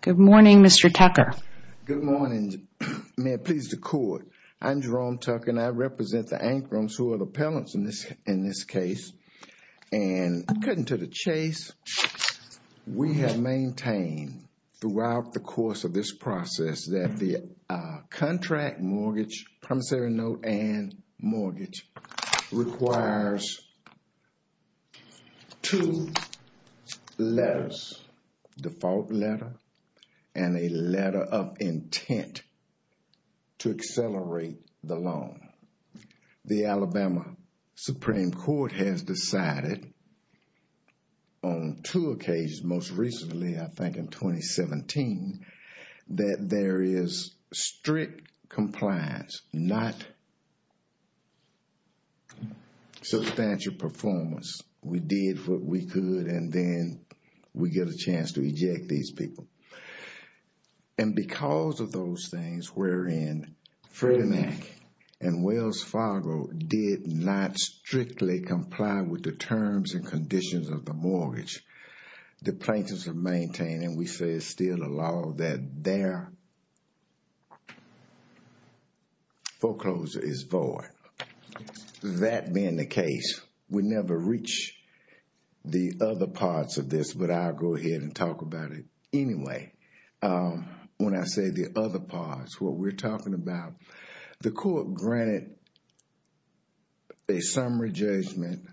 Good morning, Mr. Tucker. Good morning. May it please the Court, I'm Jerome Tucker and I represent the Anchrums who are the appellants in this case. And cutting to the chase, we have maintained throughout the course of this process that the contract mortgage, promissory note and mortgage requires two letters, default letter and a letter of intent to accelerate the loan. The Alabama Supreme Court has decided on two occasions, most recently I think in 2017, that there is strict compliance, not substantial performance. We did what we could and then we get a chance to eject these people. And because of those things, we're in Frederick and Wells Fargo did not strictly comply with the terms and conditions of the mortgage. The plaintiffs have maintained and we say it's still a law that their foreclosure is void. That being the case, we never reach the other parts of this, but I'll go ahead and talk about it anyway. When I say the other parts, what we're talking about, the Court granted a summary judgment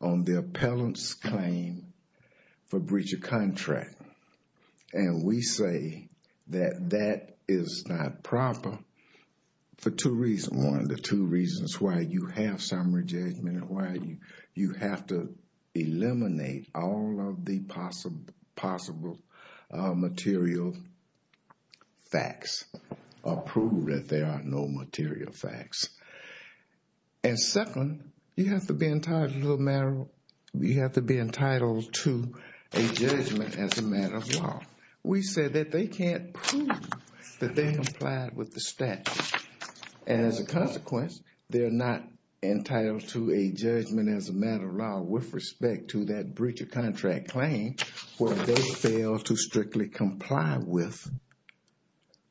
on the appellant's claim for breach of contract. And we say that that is not proper for two reasons. One, the two reasons why you have summary judgment and why you have to eliminate all of the possible material facts or prove that there are no material facts. And second, you have to be entitled to a judgment as a matter of law. We said that they can't prove that they complied with the statute. And as a consequence, they're not entitled to a judgment as a matter of law with respect to that breach of contract claim where they failed to strictly comply with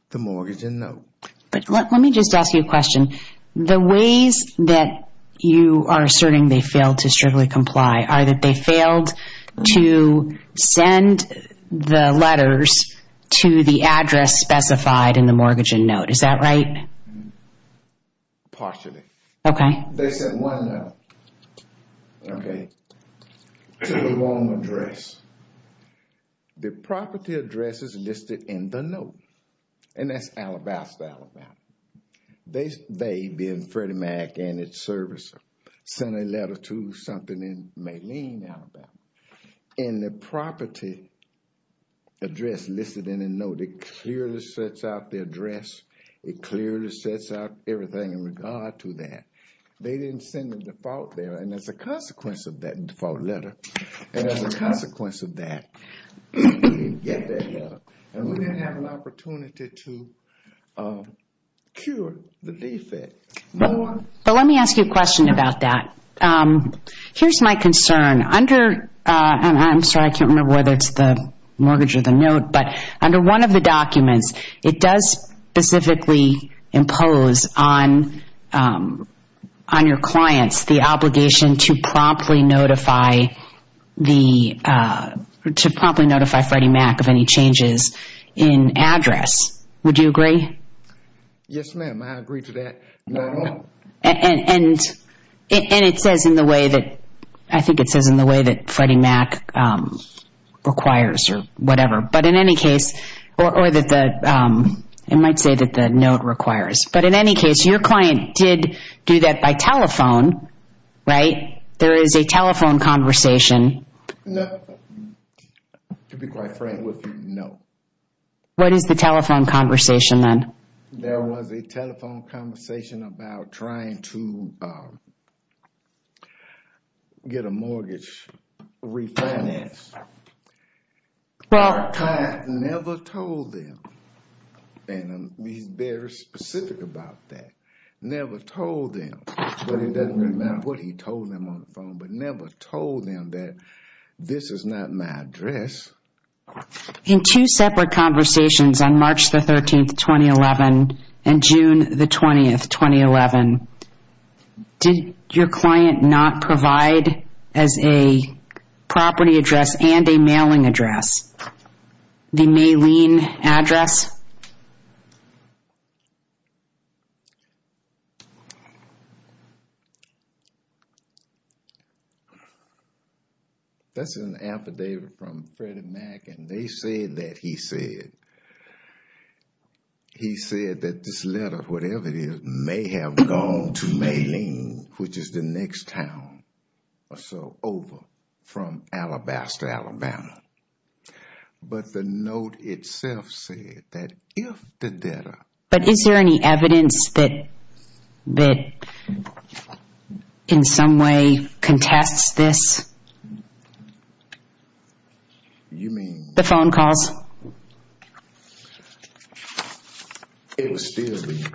the mortgage and note. But let me just ask you a question. The ways that you are asserting they failed to strictly comply are that they failed to send the letters to the address specified in the mortgage and note. Is that right? Partially. Okay. They sent one note to the wrong address. The property address is listed in the note. And that's Alabaster, Alabama. They being Freddie Mac and its servicer, sent a letter to something in Moline, Alabama. And the property address listed in the note, it clearly sets out the address. It clearly sets out everything in regard to that. They didn't send the default there. And as a consequence of that default letter, and as a consequence of that, we didn't get that note. And we didn't have an opportunity to cure the defect. But let me ask you a question about that. Here's my concern. Under, and I'm sorry, I can't remember whether it's the mortgage or the note, but under one of the documents, it does specifically impose on your clients the obligation to promptly notify the, to promptly notify Freddie Mac of any changes in address. Would you agree? Yes, ma'am. I agree to that. And it says in the way that, I think it says in the way that Freddie Mac requires or whatever. But in any case, or that the, it might say that the note requires. But in any case, your client did do that by telephone, right? There is a telephone conversation. No. To be quite frank with you, no. What is the telephone conversation then? There was a telephone conversation about trying to get a mortgage refinanced. Well. My client never told them, and he's very specific about that, never told them, but it doesn't really matter what he told them on the phone, but never told them that this is not my address. In two separate conversations on March the 13th, 2011, and June the 20th, 2011, did your address and a mailing address, the Maylene address? That's an affidavit from Freddie Mac, and they say that he said, he said that this letter, whatever it is, may have gone to Maylene, which is the next town or so over from Alabaster, Alabama. But the note itself said that if the debtor. But is there any evidence that in some way contests this? You mean? The phone calls? It would still be,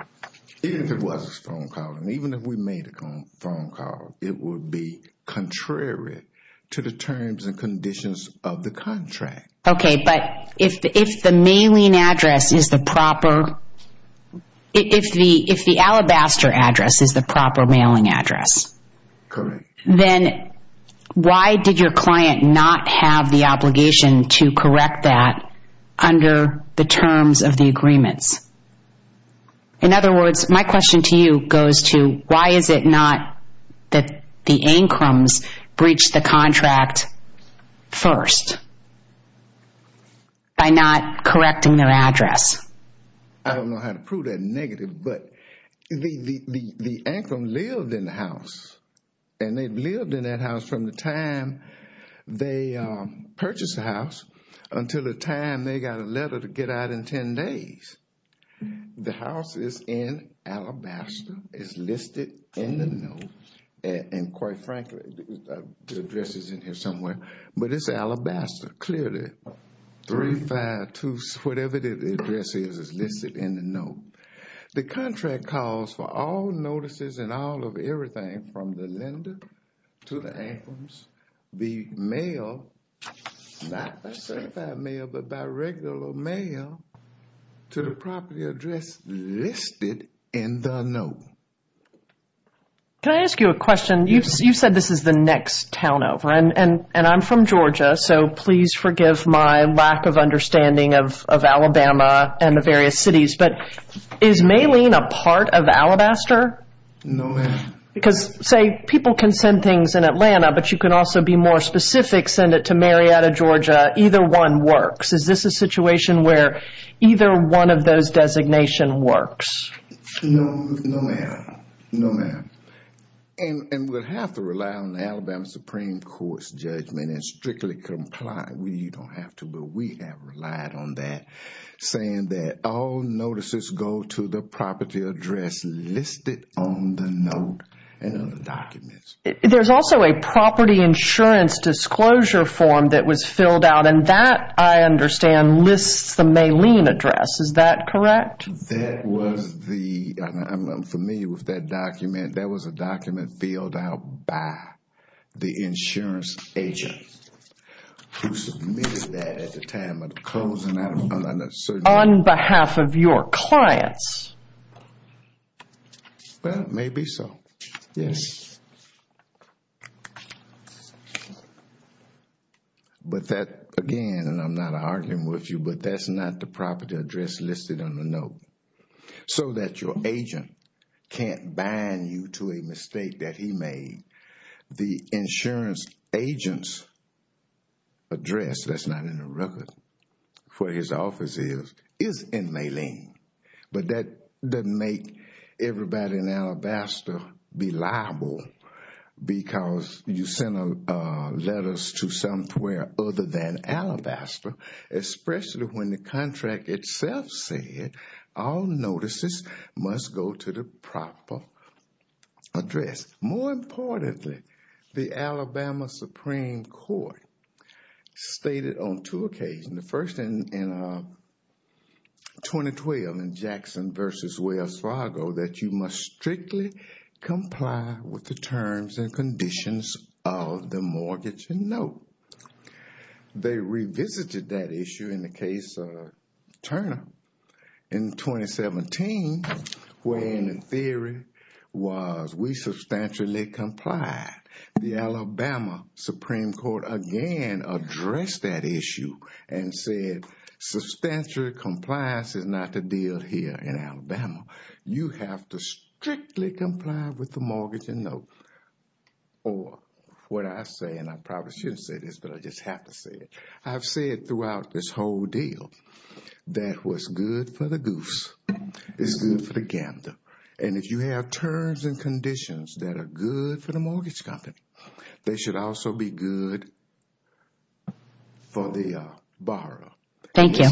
if it was a phone call, and even if we made a phone call, it would be contrary to the terms and conditions of the contract. Okay. But if the Maylene address is the proper, if the Alabaster address is the proper mailing under the terms of the agreements? In other words, my question to you goes to why is it not that the Ancrums breached the contract first by not correcting their address? I don't know how to prove that negative, but the Ancrum lived in the house, and they lived they got a letter to get out in 10 days. The house is in Alabaster, it's listed in the note, and quite frankly, the address is in here somewhere. But it's Alabaster, clearly, three, five, two, whatever the address is, it's listed in the note. The contract calls for all notices and all of everything from the lender to the Ancrums, the mail, not certified mail, but by regular mail, to the property address listed in the note. Can I ask you a question? You said this is the next town over, and I'm from Georgia, so please forgive my lack of understanding of Alabama and the various cities, but is Maylene a part of Alabaster? No, ma'am. Because, say, people can send things in Atlanta, but you can also be more specific, send it to Marietta, Georgia, either one works. Is this a situation where either one of those designations works? No, ma'am. No, ma'am. And we'll have to rely on the Alabama Supreme Court's judgment and strictly comply, you don't have to, but we have relied on that, saying that all notices go to the property address listed on the note and on the documents. There's also a property insurance disclosure form that was filled out, and that, I understand, lists the Maylene address, is that correct? That was the, I'm familiar with that document, that was a document filled out by the insurance agent, who submitted that at the time of the closing out of an uncertainty. On behalf of your clients? Well, maybe so, yes. But that, again, and I'm not arguing with you, but that's not the property address listed on the note, so that your agent can't bind you to a mistake that he made. The insurance agent's address, that's not in the record, for his office is, is in Maylene. But that doesn't make everybody in Alabaster be liable, because you sent letters to somewhere other than Alabaster, especially when the contract itself said, all notices must go to the proper address. More importantly, the Alabama Supreme Court stated on two occasions, the first in 2012 in Jackson v. Wells Fargo, that you must strictly comply with the terms and conditions of the mortgage and note. They revisited that issue in the case of Turner in 2017, where in theory was, we substantially complied. The Alabama Supreme Court again addressed that issue and said, substantial compliance is not the deal here in Alabama. You have to strictly comply with the mortgage and note, or what I say, and I probably shouldn't say this, but I just have to say it, I've said throughout this whole deal, that what's good for the goose is good for the gander. And if you have terms and conditions that are good for the mortgage company, they should Thank you.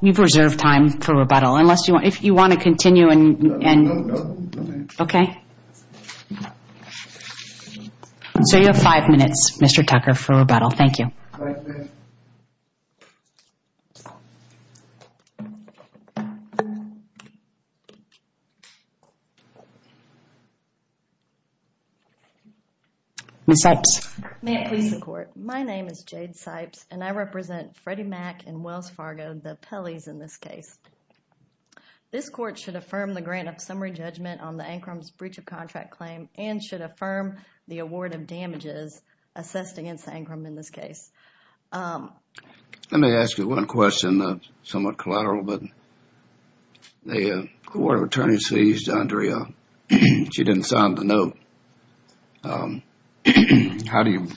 You've reserved time for rebuttal. If you want to continue and... No, no, no. Okay. So you have five minutes, Mr. Tucker, for rebuttal. Thank you. Ms. Sipes. May I please support? My name is Jade Sipes, and I represent Freddie Mac and Wells Fargo, the Pellies in this case. This court should affirm the grant of summary judgment on the Ancrum's breach of contract claim and should affirm the award of damages assessed against Ancrum in this case. Let me ask you one question, somewhat collateral, but the Court of Attorneys seized Andrea. She didn't sign the note. How do you,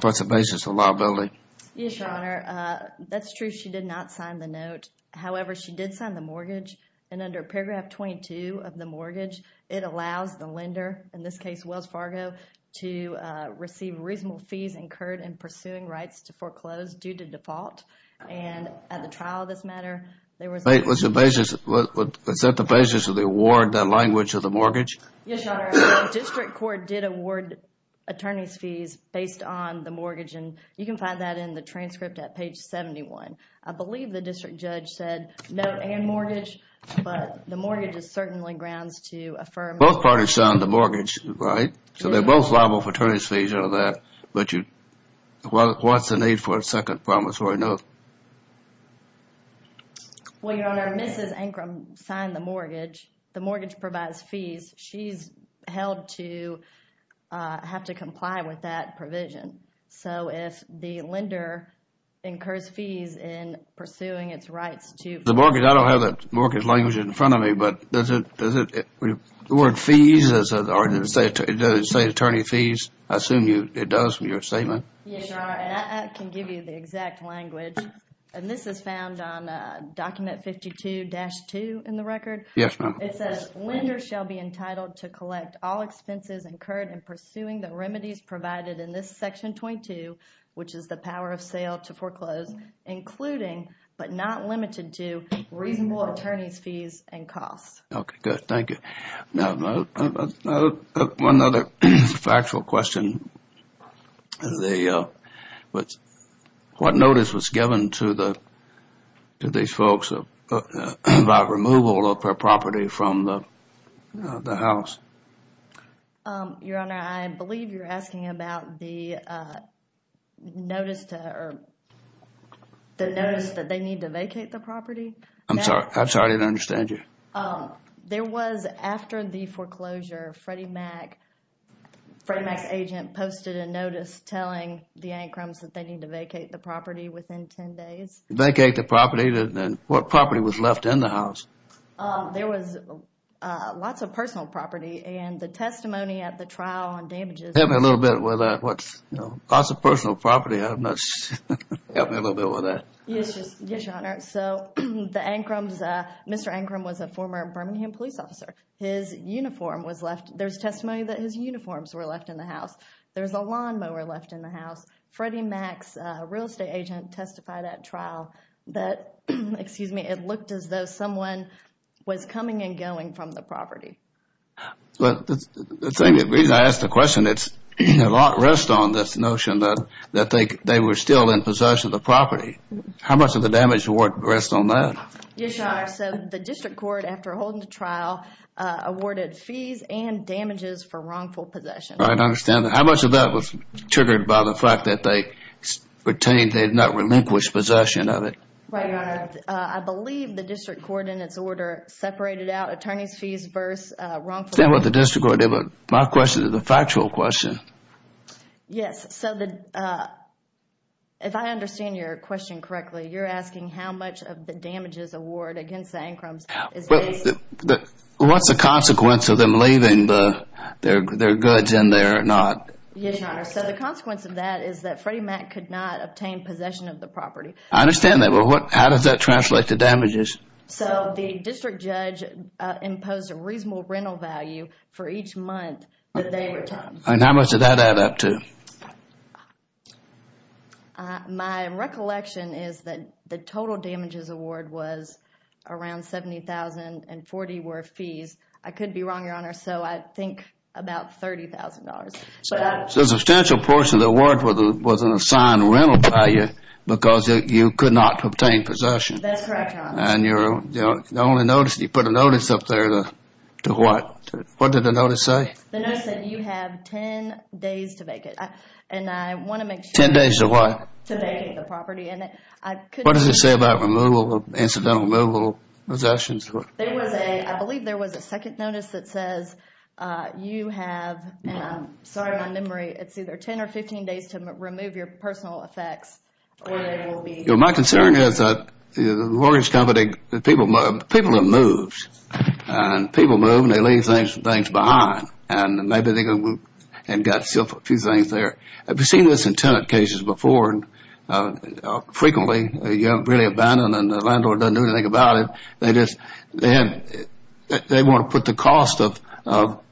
what's the basis of the liability? Yes, Your Honor. That's true, she did not sign the note. However, she did sign the mortgage, and under paragraph 22 of the mortgage, it allows the lender, in this case, Wells Fargo, to receive reasonable fees incurred in pursuing rights to foreclose due to default, and at the trial of this matter, there was... Wait, what's the basis, is that the basis of the award, the language of the mortgage? Yes, Your Honor. The District Court did award attorney's fees based on the mortgage, and you can find that in the transcript at page 71. I believe the District Judge said note and mortgage, but the mortgage is certainly grounds to affirm... Both parties signed the mortgage, right? So they're both liable for attorney's fees under that, but what's the need for a second promissory note? Well, Your Honor, Mrs. Ancrum signed the mortgage. The mortgage provides fees. She's held to have to comply with that provision, so if the lender incurs fees in pursuing its rights to... The mortgage, I don't have the mortgage language in front of me, but does it, the word fees or does it say attorney's fees? I assume it does from your statement. Yes, Your Honor, and I can give you the exact language, and this is found on document 52-2 in the record. Yes, ma'am. It says, Lender shall be entitled to collect all expenses incurred in pursuing the remedies provided in this section 22, which is the power of sale to foreclose, including, but not limited to, reasonable attorney's fees and costs. Okay, good. Thank you. Now, one other factual question. What notice was given to these folks about removal of their property from the house? Your Honor, I believe you're asking about the notice that they need to vacate the property? I'm sorry, I'm sorry, I didn't understand you. There was, after the foreclosure, Freddie Mac, Freddie Mac's agent, posted a notice telling the Ancrums that they need to vacate the property within 10 days. Vacate the property? Then what property was left in the house? There was lots of personal property, and the testimony at the trial on damages... Help me a little bit with that. What's, you know, lots of personal property, I'm not sure, help me a little bit with that. Yes, Your Honor. So, the Ancrums, Mr. Ancrum was a former Birmingham police officer. His uniform was left, there's testimony that his uniforms were left in the house. There's a lawnmower left in the house. Freddie Mac's real estate agent testified at trial that, excuse me, it looked as though someone was coming and going from the property. Well, the same reason I asked the question, it's a lot rest on this notion that they were still in possession of the property. How much of the damage rest on that? Yes, Your Honor. So, the district court, after holding the trial, awarded fees and damages for wrongful possession. Right, I understand that. How much of that was triggered by the fact that they retained, they did not relinquish possession of it? Right, Your Honor. I believe the district court, in its order, separated out attorney's fees versus wrongful possession. I understand what the district court did, but my question is a factual question. Yes, so the, if I understand your question correctly, you're asking how much of the damages award against the Ancrums is based? What's the consequence of them leaving their goods in there, not? Yes, Your Honor. So, the consequence of that is that Freddie Mac could not obtain possession of the property. I understand that, but how does that translate to damages? So, the district judge imposed a reasonable rental value for each month that they were entitled to. And how much did that add up to? My recollection is that the total damages award was around $70,000 and $40,000 were I could be wrong, Your Honor, so I think about $30,000. So, a substantial portion of the award was an assigned rental value because you could not obtain possession. That's correct, Your Honor. And you're, you know, the only notice, you put a notice up there, to what, what did the notice say? The notice said, you have 10 days to make it. And I want to make sure. 10 days to what? To make it, the property. And I couldn't. What does it say about removal, incidental removal possessions? There was a, I believe there was a second notice that says, you have, and I'm sorry my memory, it's either 10 or 15 days to remove your personal effects or there will be. My concern is that the mortgage company, the people, the people that moves, and people move and they leave things behind and maybe they can move and get a few things there. I've seen this in tenant cases before and frequently, you know, really abandoned and the landlord doesn't do anything about it. They just, they want to put the cost of, you know,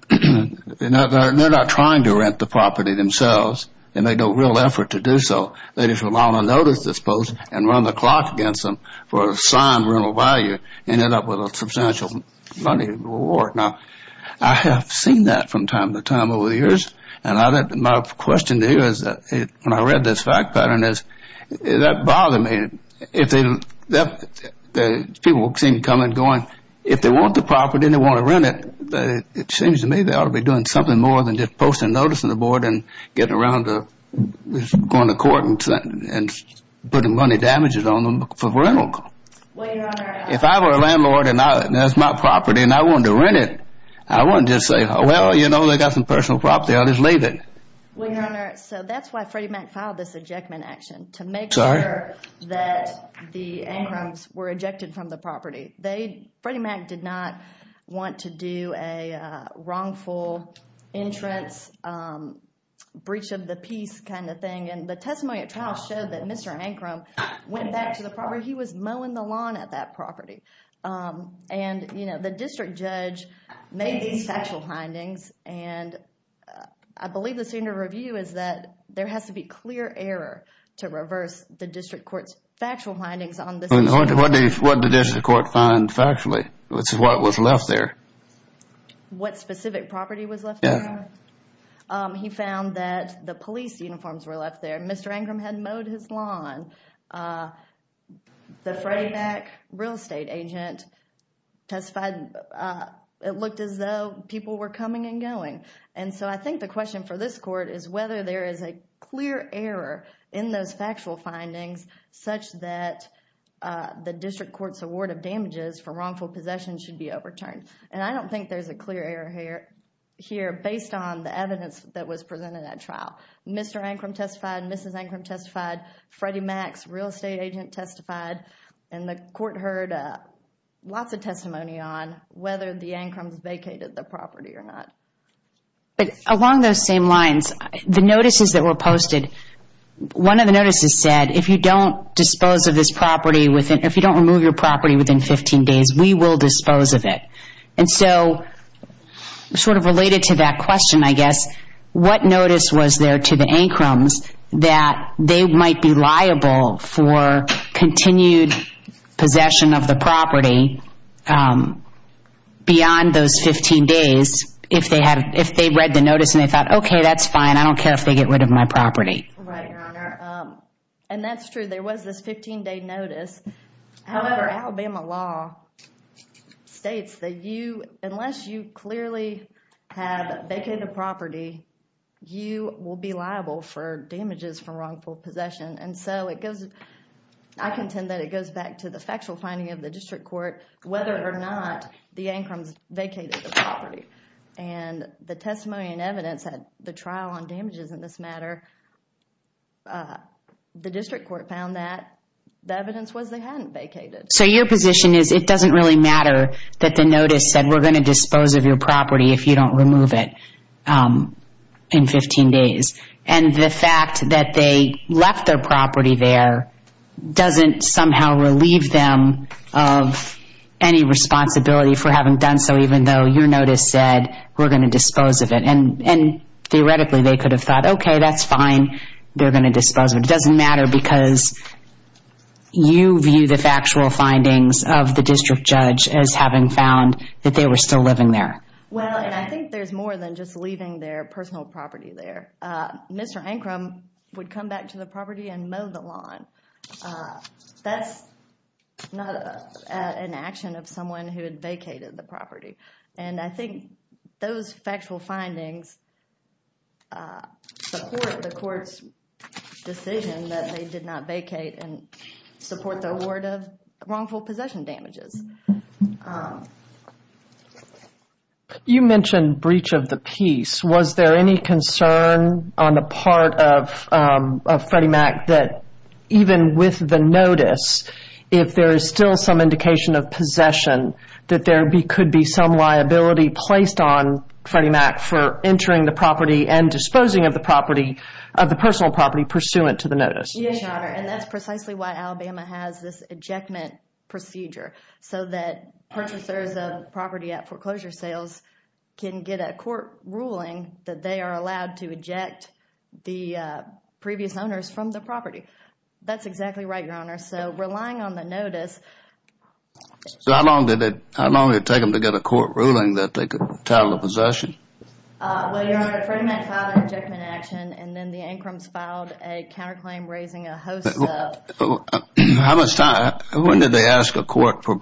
they're not trying to rent the property themselves. They make no real effort to do so. They just rely on a notice, I suppose, and run the clock against them for an assigned rental value and end up with a substantial money reward. Now, I have seen that from time to time over the years and my question to you is, when I read this fact pattern is, does that bother me? If they, people seem to come and go and if they want the property and they want to rent it, it seems to me they ought to be doing something more than just posting a notice on the board and getting around to going to court and putting money damages on them for rental. If I were a landlord and that's my property and I wanted to rent it, I wouldn't just say, well, you know, they got some personal property, I'll just leave it. Well, your honor, so that's why Freddie Mac filed this ejectment action to make sure that the Ancrums were ejected from the property. They, Freddie Mac did not want to do a wrongful entrance, breach of the peace kind of thing and the testimony at trial showed that Mr. Ancrum went back to the property. He was mowing the lawn at that property and, you know, the district judge made these factual findings and I believe the senior review is that there has to be clear error to reverse the district court's factual findings on this. What did the district court find factually, which is what was left there? What specific property was left there? He found that the police uniforms were left there. Mr. Ancrum had mowed his lawn. The Freddie Mac real estate agent testified it looked as though people were coming and going and so I think the question for this court is whether there is a clear error in those factual findings such that the district court's award of damages for wrongful possession should be overturned and I don't think there's a clear error here based on the evidence that was presented at trial. Mr. Ancrum testified, Mrs. Ancrum testified, Freddie Mac's real estate agent testified and the court heard lots of testimony on whether the Ancrums vacated the property or not. But along those same lines, the notices that were posted, one of the notices said if you don't dispose of this property within, if you don't remove your property within 15 days, we will dispose of it and so sort of related to that question, I guess, what notice was there to the Ancrums that they might be liable for continued possession of the property beyond those 15 days if they read the notice and they thought, okay, that's fine, I don't care if they get rid of my property. Right, Your Honor. And that's true. There was this 15 day notice, however, Alabama law states that unless you clearly have vacated a property, you will be liable for damages for wrongful possession. And so it goes, I contend that it goes back to the factual finding of the district court whether or not the Ancrums vacated the property. And the testimony and evidence at the trial on damages in this matter, the district court found that the evidence was they hadn't vacated. So your position is it doesn't really matter that the notice said we're going to dispose of your property if you don't remove it in 15 days. And the fact that they left their property there doesn't somehow relieve them of any responsibility for having done so even though your notice said we're going to dispose of it. And theoretically, they could have thought, okay, that's fine, they're going to dispose of it. It doesn't matter because you view the factual findings of the district judge as having found that they were still living there. Well, and I think there's more than just leaving their personal property there. Mr. Ancrum would come back to the property and mow the lawn. That's not an action of someone who had vacated the property. And I think those factual findings support the court's decision that they did not vacate and support the award of wrongful possession damages. You mentioned breach of the peace. Was there any concern on the part of Freddie Mac that even with the notice, if there is still some indication of possession, that there could be some liability placed on Freddie Mac for entering the property and disposing of the property, of the personal property Yes, Your Honor. And that's precisely why Alabama has this ejectment procedure. So that purchasers of property at foreclosure sales can get a court ruling that they are allowed to eject the previous owners from the property. That's exactly right, Your Honor. So relying on the notice. So how long did it, how long did it take them to get a court ruling that they could tattle the possession? Well, Your Honor, Freddie Mac filed an ejectment action and then the Ancrums filed a counterclaim raising a host of... How much time, when did they ask a court for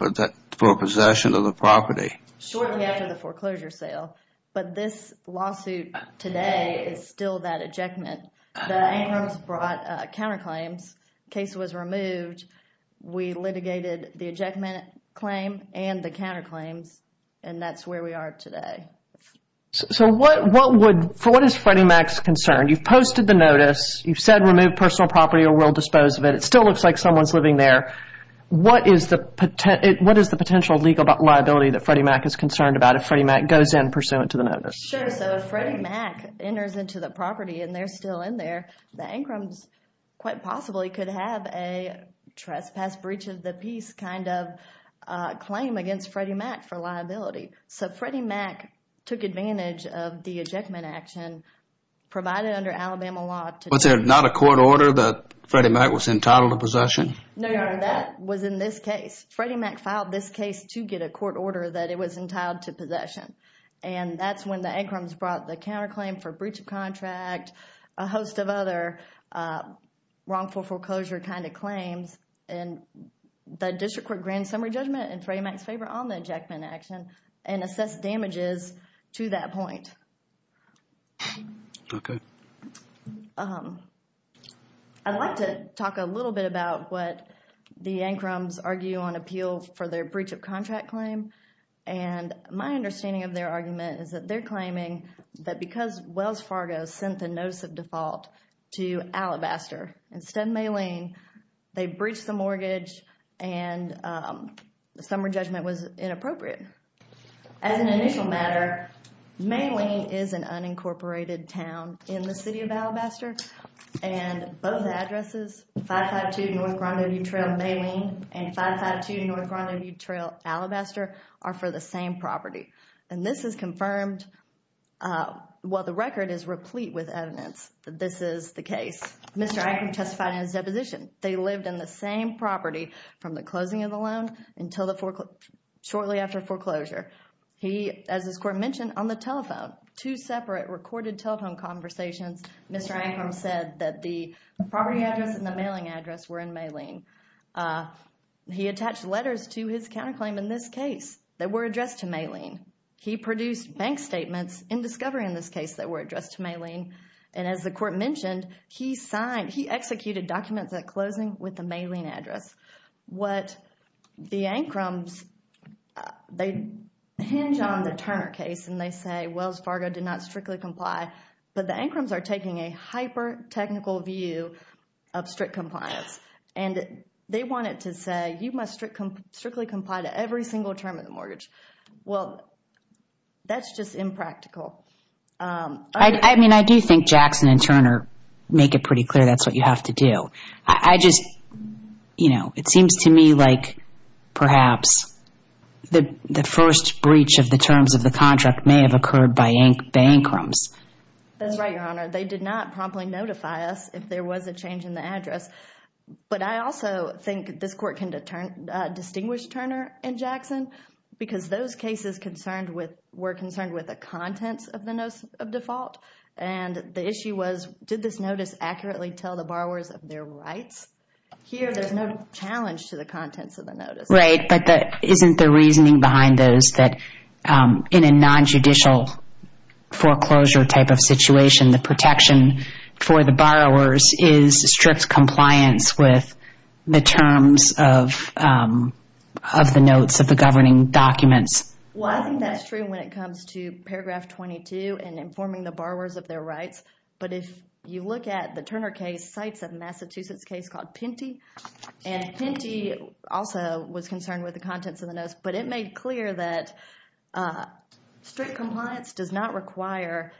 possession of the property? Shortly after the foreclosure sale. But this lawsuit today is still that ejectment. The Ancrums brought counterclaims, case was removed, we litigated the ejectment claim and the counterclaims, and that's where we are today. So what would, for what is Freddie Mac's concern? You've posted the notice, you've said remove personal property or we'll dispose of it. It still looks like someone's living there. What is the potential legal liability that Freddie Mac is concerned about if Freddie Mac goes in pursuant to the notice? Sure. So if Freddie Mac enters into the property and they're still in there, the Ancrums quite possibly could have a trespass breach of the peace kind of claim against Freddie Mac for liability. So Freddie Mac took advantage of the ejectment action provided under Alabama law to... Was there not a court order that Freddie Mac was entitled to possession? No, Your Honor. That was in this case. Freddie Mac filed this case to get a court order that it was entitled to possession. And that's when the Ancrums brought the counterclaim for breach of contract, a host of other wrongful foreclosure kind of claims, and the district court grand summary judgment in Freddie Mac's favor on the ejectment action and assessed damages to that point. Okay. I'd like to talk a little bit about what the Ancrums argue on appeal for their breach of contract claim. And my understanding of their argument is that they're claiming that because Wells Fargo sent the notice of default to Alabaster, instead of Malene, they breached the mortgage and the summary judgment was inappropriate. As an initial matter, Malene is an unincorporated town in the city of Alabaster, and both addresses, 552 North Grandview Trail, Malene, and 552 North Grandview Trail, Alabaster, are for the same property. And this is confirmed, well, the record is replete with evidence that this is the case. Mr. Ancrum testified in his deposition. They lived in the same property from the closing of the loan until the foreclosure, shortly after foreclosure. He, as this court mentioned, on the telephone, two separate recorded telephone conversations, Mr. Ancrum said that the property address and the mailing address were in Malene. He attached letters to his counterclaim in this case that were addressed to Malene. He produced bank statements in discovery in this case that were addressed to Malene. And as the court mentioned, he executed documents at closing with the Malene address. What the Ancrums, they hinge on the Turner case and they say Wells Fargo did not strictly comply, but the Ancrums are taking a hyper-technical view of strict compliance. And they want it to say, you must strictly comply to every single term of the mortgage. Well, that's just impractical. I mean, I do think Jackson and Turner make it pretty clear that's what you have to do. I just, you know, it seems to me like perhaps the first breach of the terms of the contract may have occurred by the Ancrums. That's right, Your Honor. They did not promptly notify us if there was a change in the address. But I also think this court can distinguish Turner and Jackson because those cases concerned with the contents of the notes of default. And the issue was, did this notice accurately tell the borrowers of their rights? Here, there's no challenge to the contents of the notice. Right, but isn't the reasoning behind those that in a non-judicial foreclosure type of situation, the protection for the borrowers is strict compliance with the terms of the notes of the governing documents? Well, I think that's true when it comes to paragraph 22 and informing the borrowers of their rights. But if you look at the Turner case, cites a Massachusetts case called Pinty. And Pinty also was concerned with the contents of the notes, but it made clear that strict compliance does not require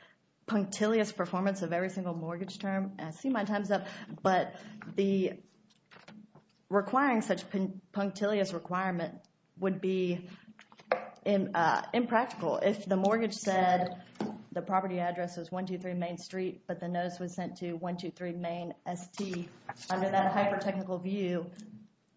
punctilious performance of every single mortgage term. I see my time's up. But requiring such punctilious requirement would be impractical. If the mortgage said the property address is 123 Main Street, but the notice was sent to 123 Main ST, under that hyper-technical view,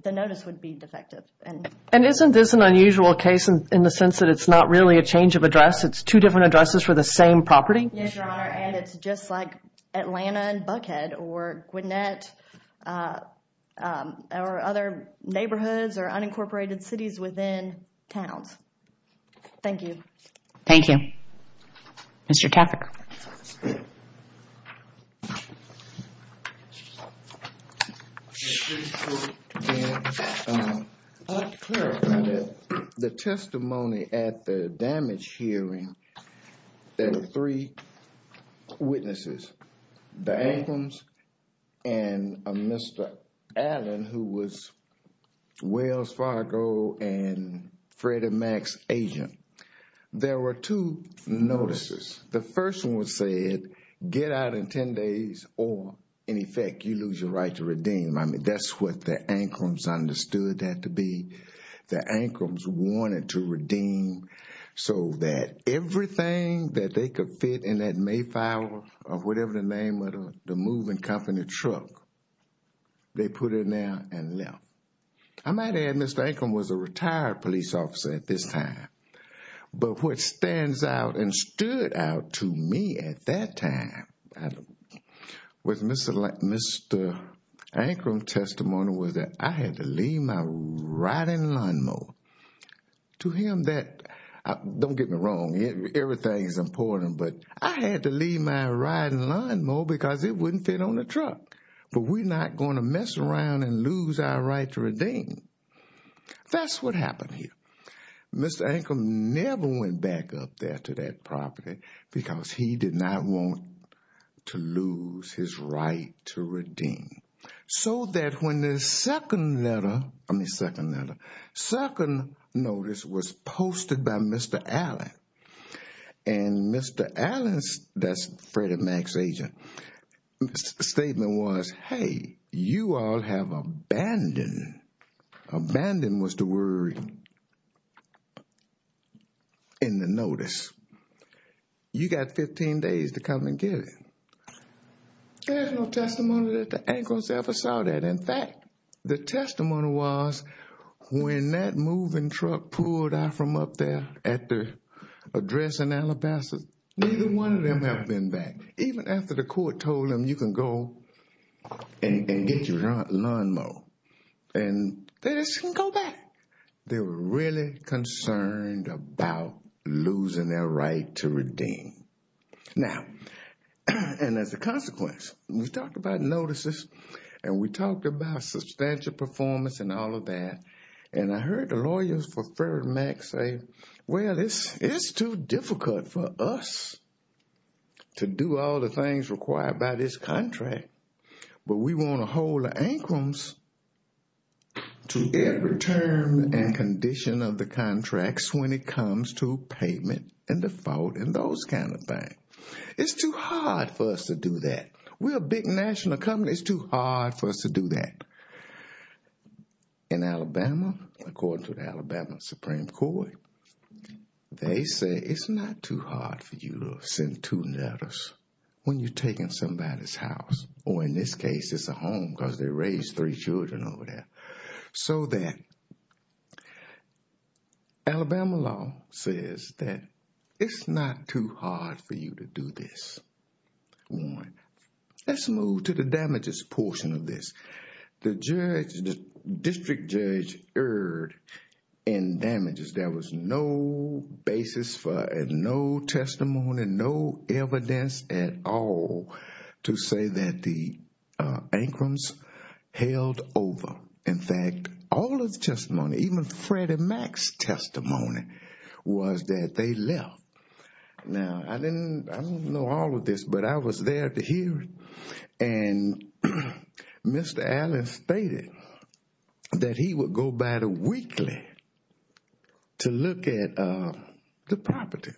the notice would be defective. And isn't this an unusual case in the sense that it's not really a change of address? It's two different addresses for the same property? Yes, Your Honor. And it's just like Atlanta and Buckhead or Gwinnett or other neighborhoods or unincorporated cities within towns. Thank you. Thank you. Mr. Taffer. I'd like to clarify that the testimony at the damage hearing, there were three witnesses, the Adams and Mr. Allen, who was Wells Fargo and Freddie Mac's agent. There were two notices. The first one said, get out in 10 days or, in effect, you lose your right to redeem. I mean, that's what the Ancrums understood that to be. The Ancrums wanted to redeem so that everything that they could fit in that Mayflower or whatever the name of the moving company truck, they put in there and left. I might add Mr. Ancrum was a retired police officer at this time. But what stands out and stood out to me at that time with Mr. Ancrum's testimony was that I had to leave my riding lawn mower. To him that, don't get me wrong, everything is important, but I had to leave my riding lawn mower because it wouldn't fit on the truck. But we're not going to mess around and lose our right to redeem. That's what happened here. Mr. Ancrum never went back up there to that property because he did not want to lose his right to redeem. So that when the second notice was posted by Mr. Allen and Mr. Allen's, that's was, hey, you all have abandoned. Abandoned was the word in the notice. You got 15 days to come and get it. There's no testimony that the Ancrums ever saw that. In fact, the testimony was when that moving truck pulled out from up there at the address in Alabaster, neither one of them have been back. Even after the court told them you can go and get your lawn mower, and they just didn't go back. They were really concerned about losing their right to redeem. Now, and as a consequence, we talked about notices and we talked about substantial performance and all of that. And I heard the lawyers for Farrar and Mack say, well, it's too difficult for us to do all the things required by this contract, but we want to hold the Ancrums to every term and condition of the contracts when it comes to payment and default and those kind of things. It's too hard for us to do that. We're a big national company. It's too hard for us to do that. In Alabama, according to the Alabama Supreme Court, they say it's not too hard for you to send two letters when you're taking somebody's house, or in this case, it's a home because they raised three children over there. So then Alabama law says that it's not too hard for you to do this. Let's move to the damages portion of this. The district judge erred in damages. There was no basis for it, no testimony, no evidence at all to say that the Ancrums held over. In fact, all of the testimony, even Freddie Mack's testimony was that they left. Now, I don't know all of this, but I was there to hear it, and Mr. Allen stated that he would go by the weekly to look at the property.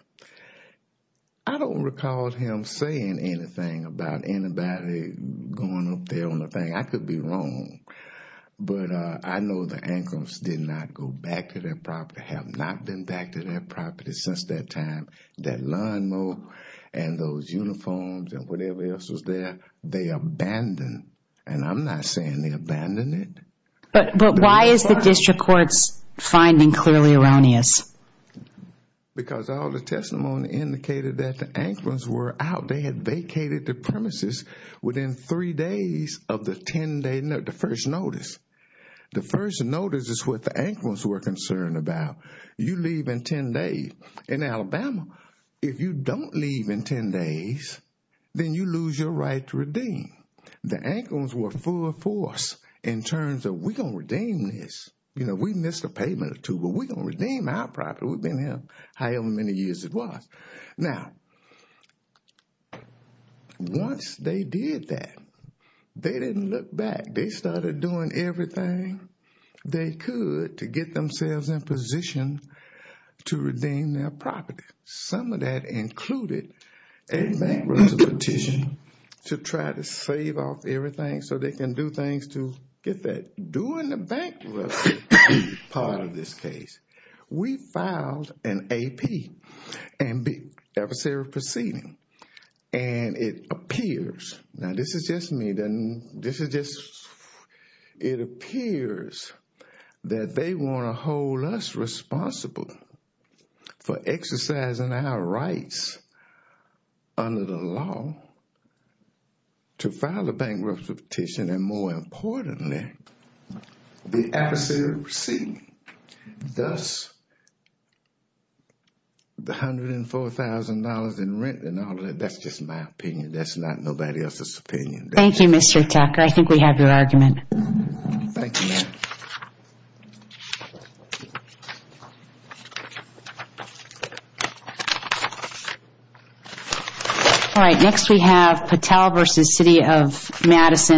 I don't recall him saying anything about anybody going up there on the thing. I could be wrong, but I know the Ancrums did not go back to their property, have not been back to their property since that time. That lawnmower and those uniforms and whatever else was there, they abandoned. And I'm not saying they abandoned it. But why is the district court's finding clearly erroneous? Because all the testimony indicated that the Ancrums were out. They had vacated the premises within three days of the first notice. The first notice is what the Ancrums were concerned about. You leave in 10 days. In Alabama, if you don't leave in 10 days, then you lose your right to redeem. The Ancrums were full force in terms of we're going to redeem this. You know, we missed a payment or two, but we're going to redeem our property. We've been here however many years it was. Now, once they did that, they didn't look back. They started doing everything they could to get themselves in position to redeem their property. Some of that included a bankruptcy petition to try to save off everything so they can do things to get that. During the bankruptcy part of this case, we filed an AP, adversary proceeding. It appears that they want to hold us responsible for exercising our rights under the law to file a bankruptcy petition and, more importantly, the adversary proceeding. Thus, the $104,000 in rent and all of that, that's just my opinion. That's not nobody else's opinion. Thank you, Mr. Tucker. I think we have your argument. Thank you, ma'am. All right, next we have Patel v. City of Madison.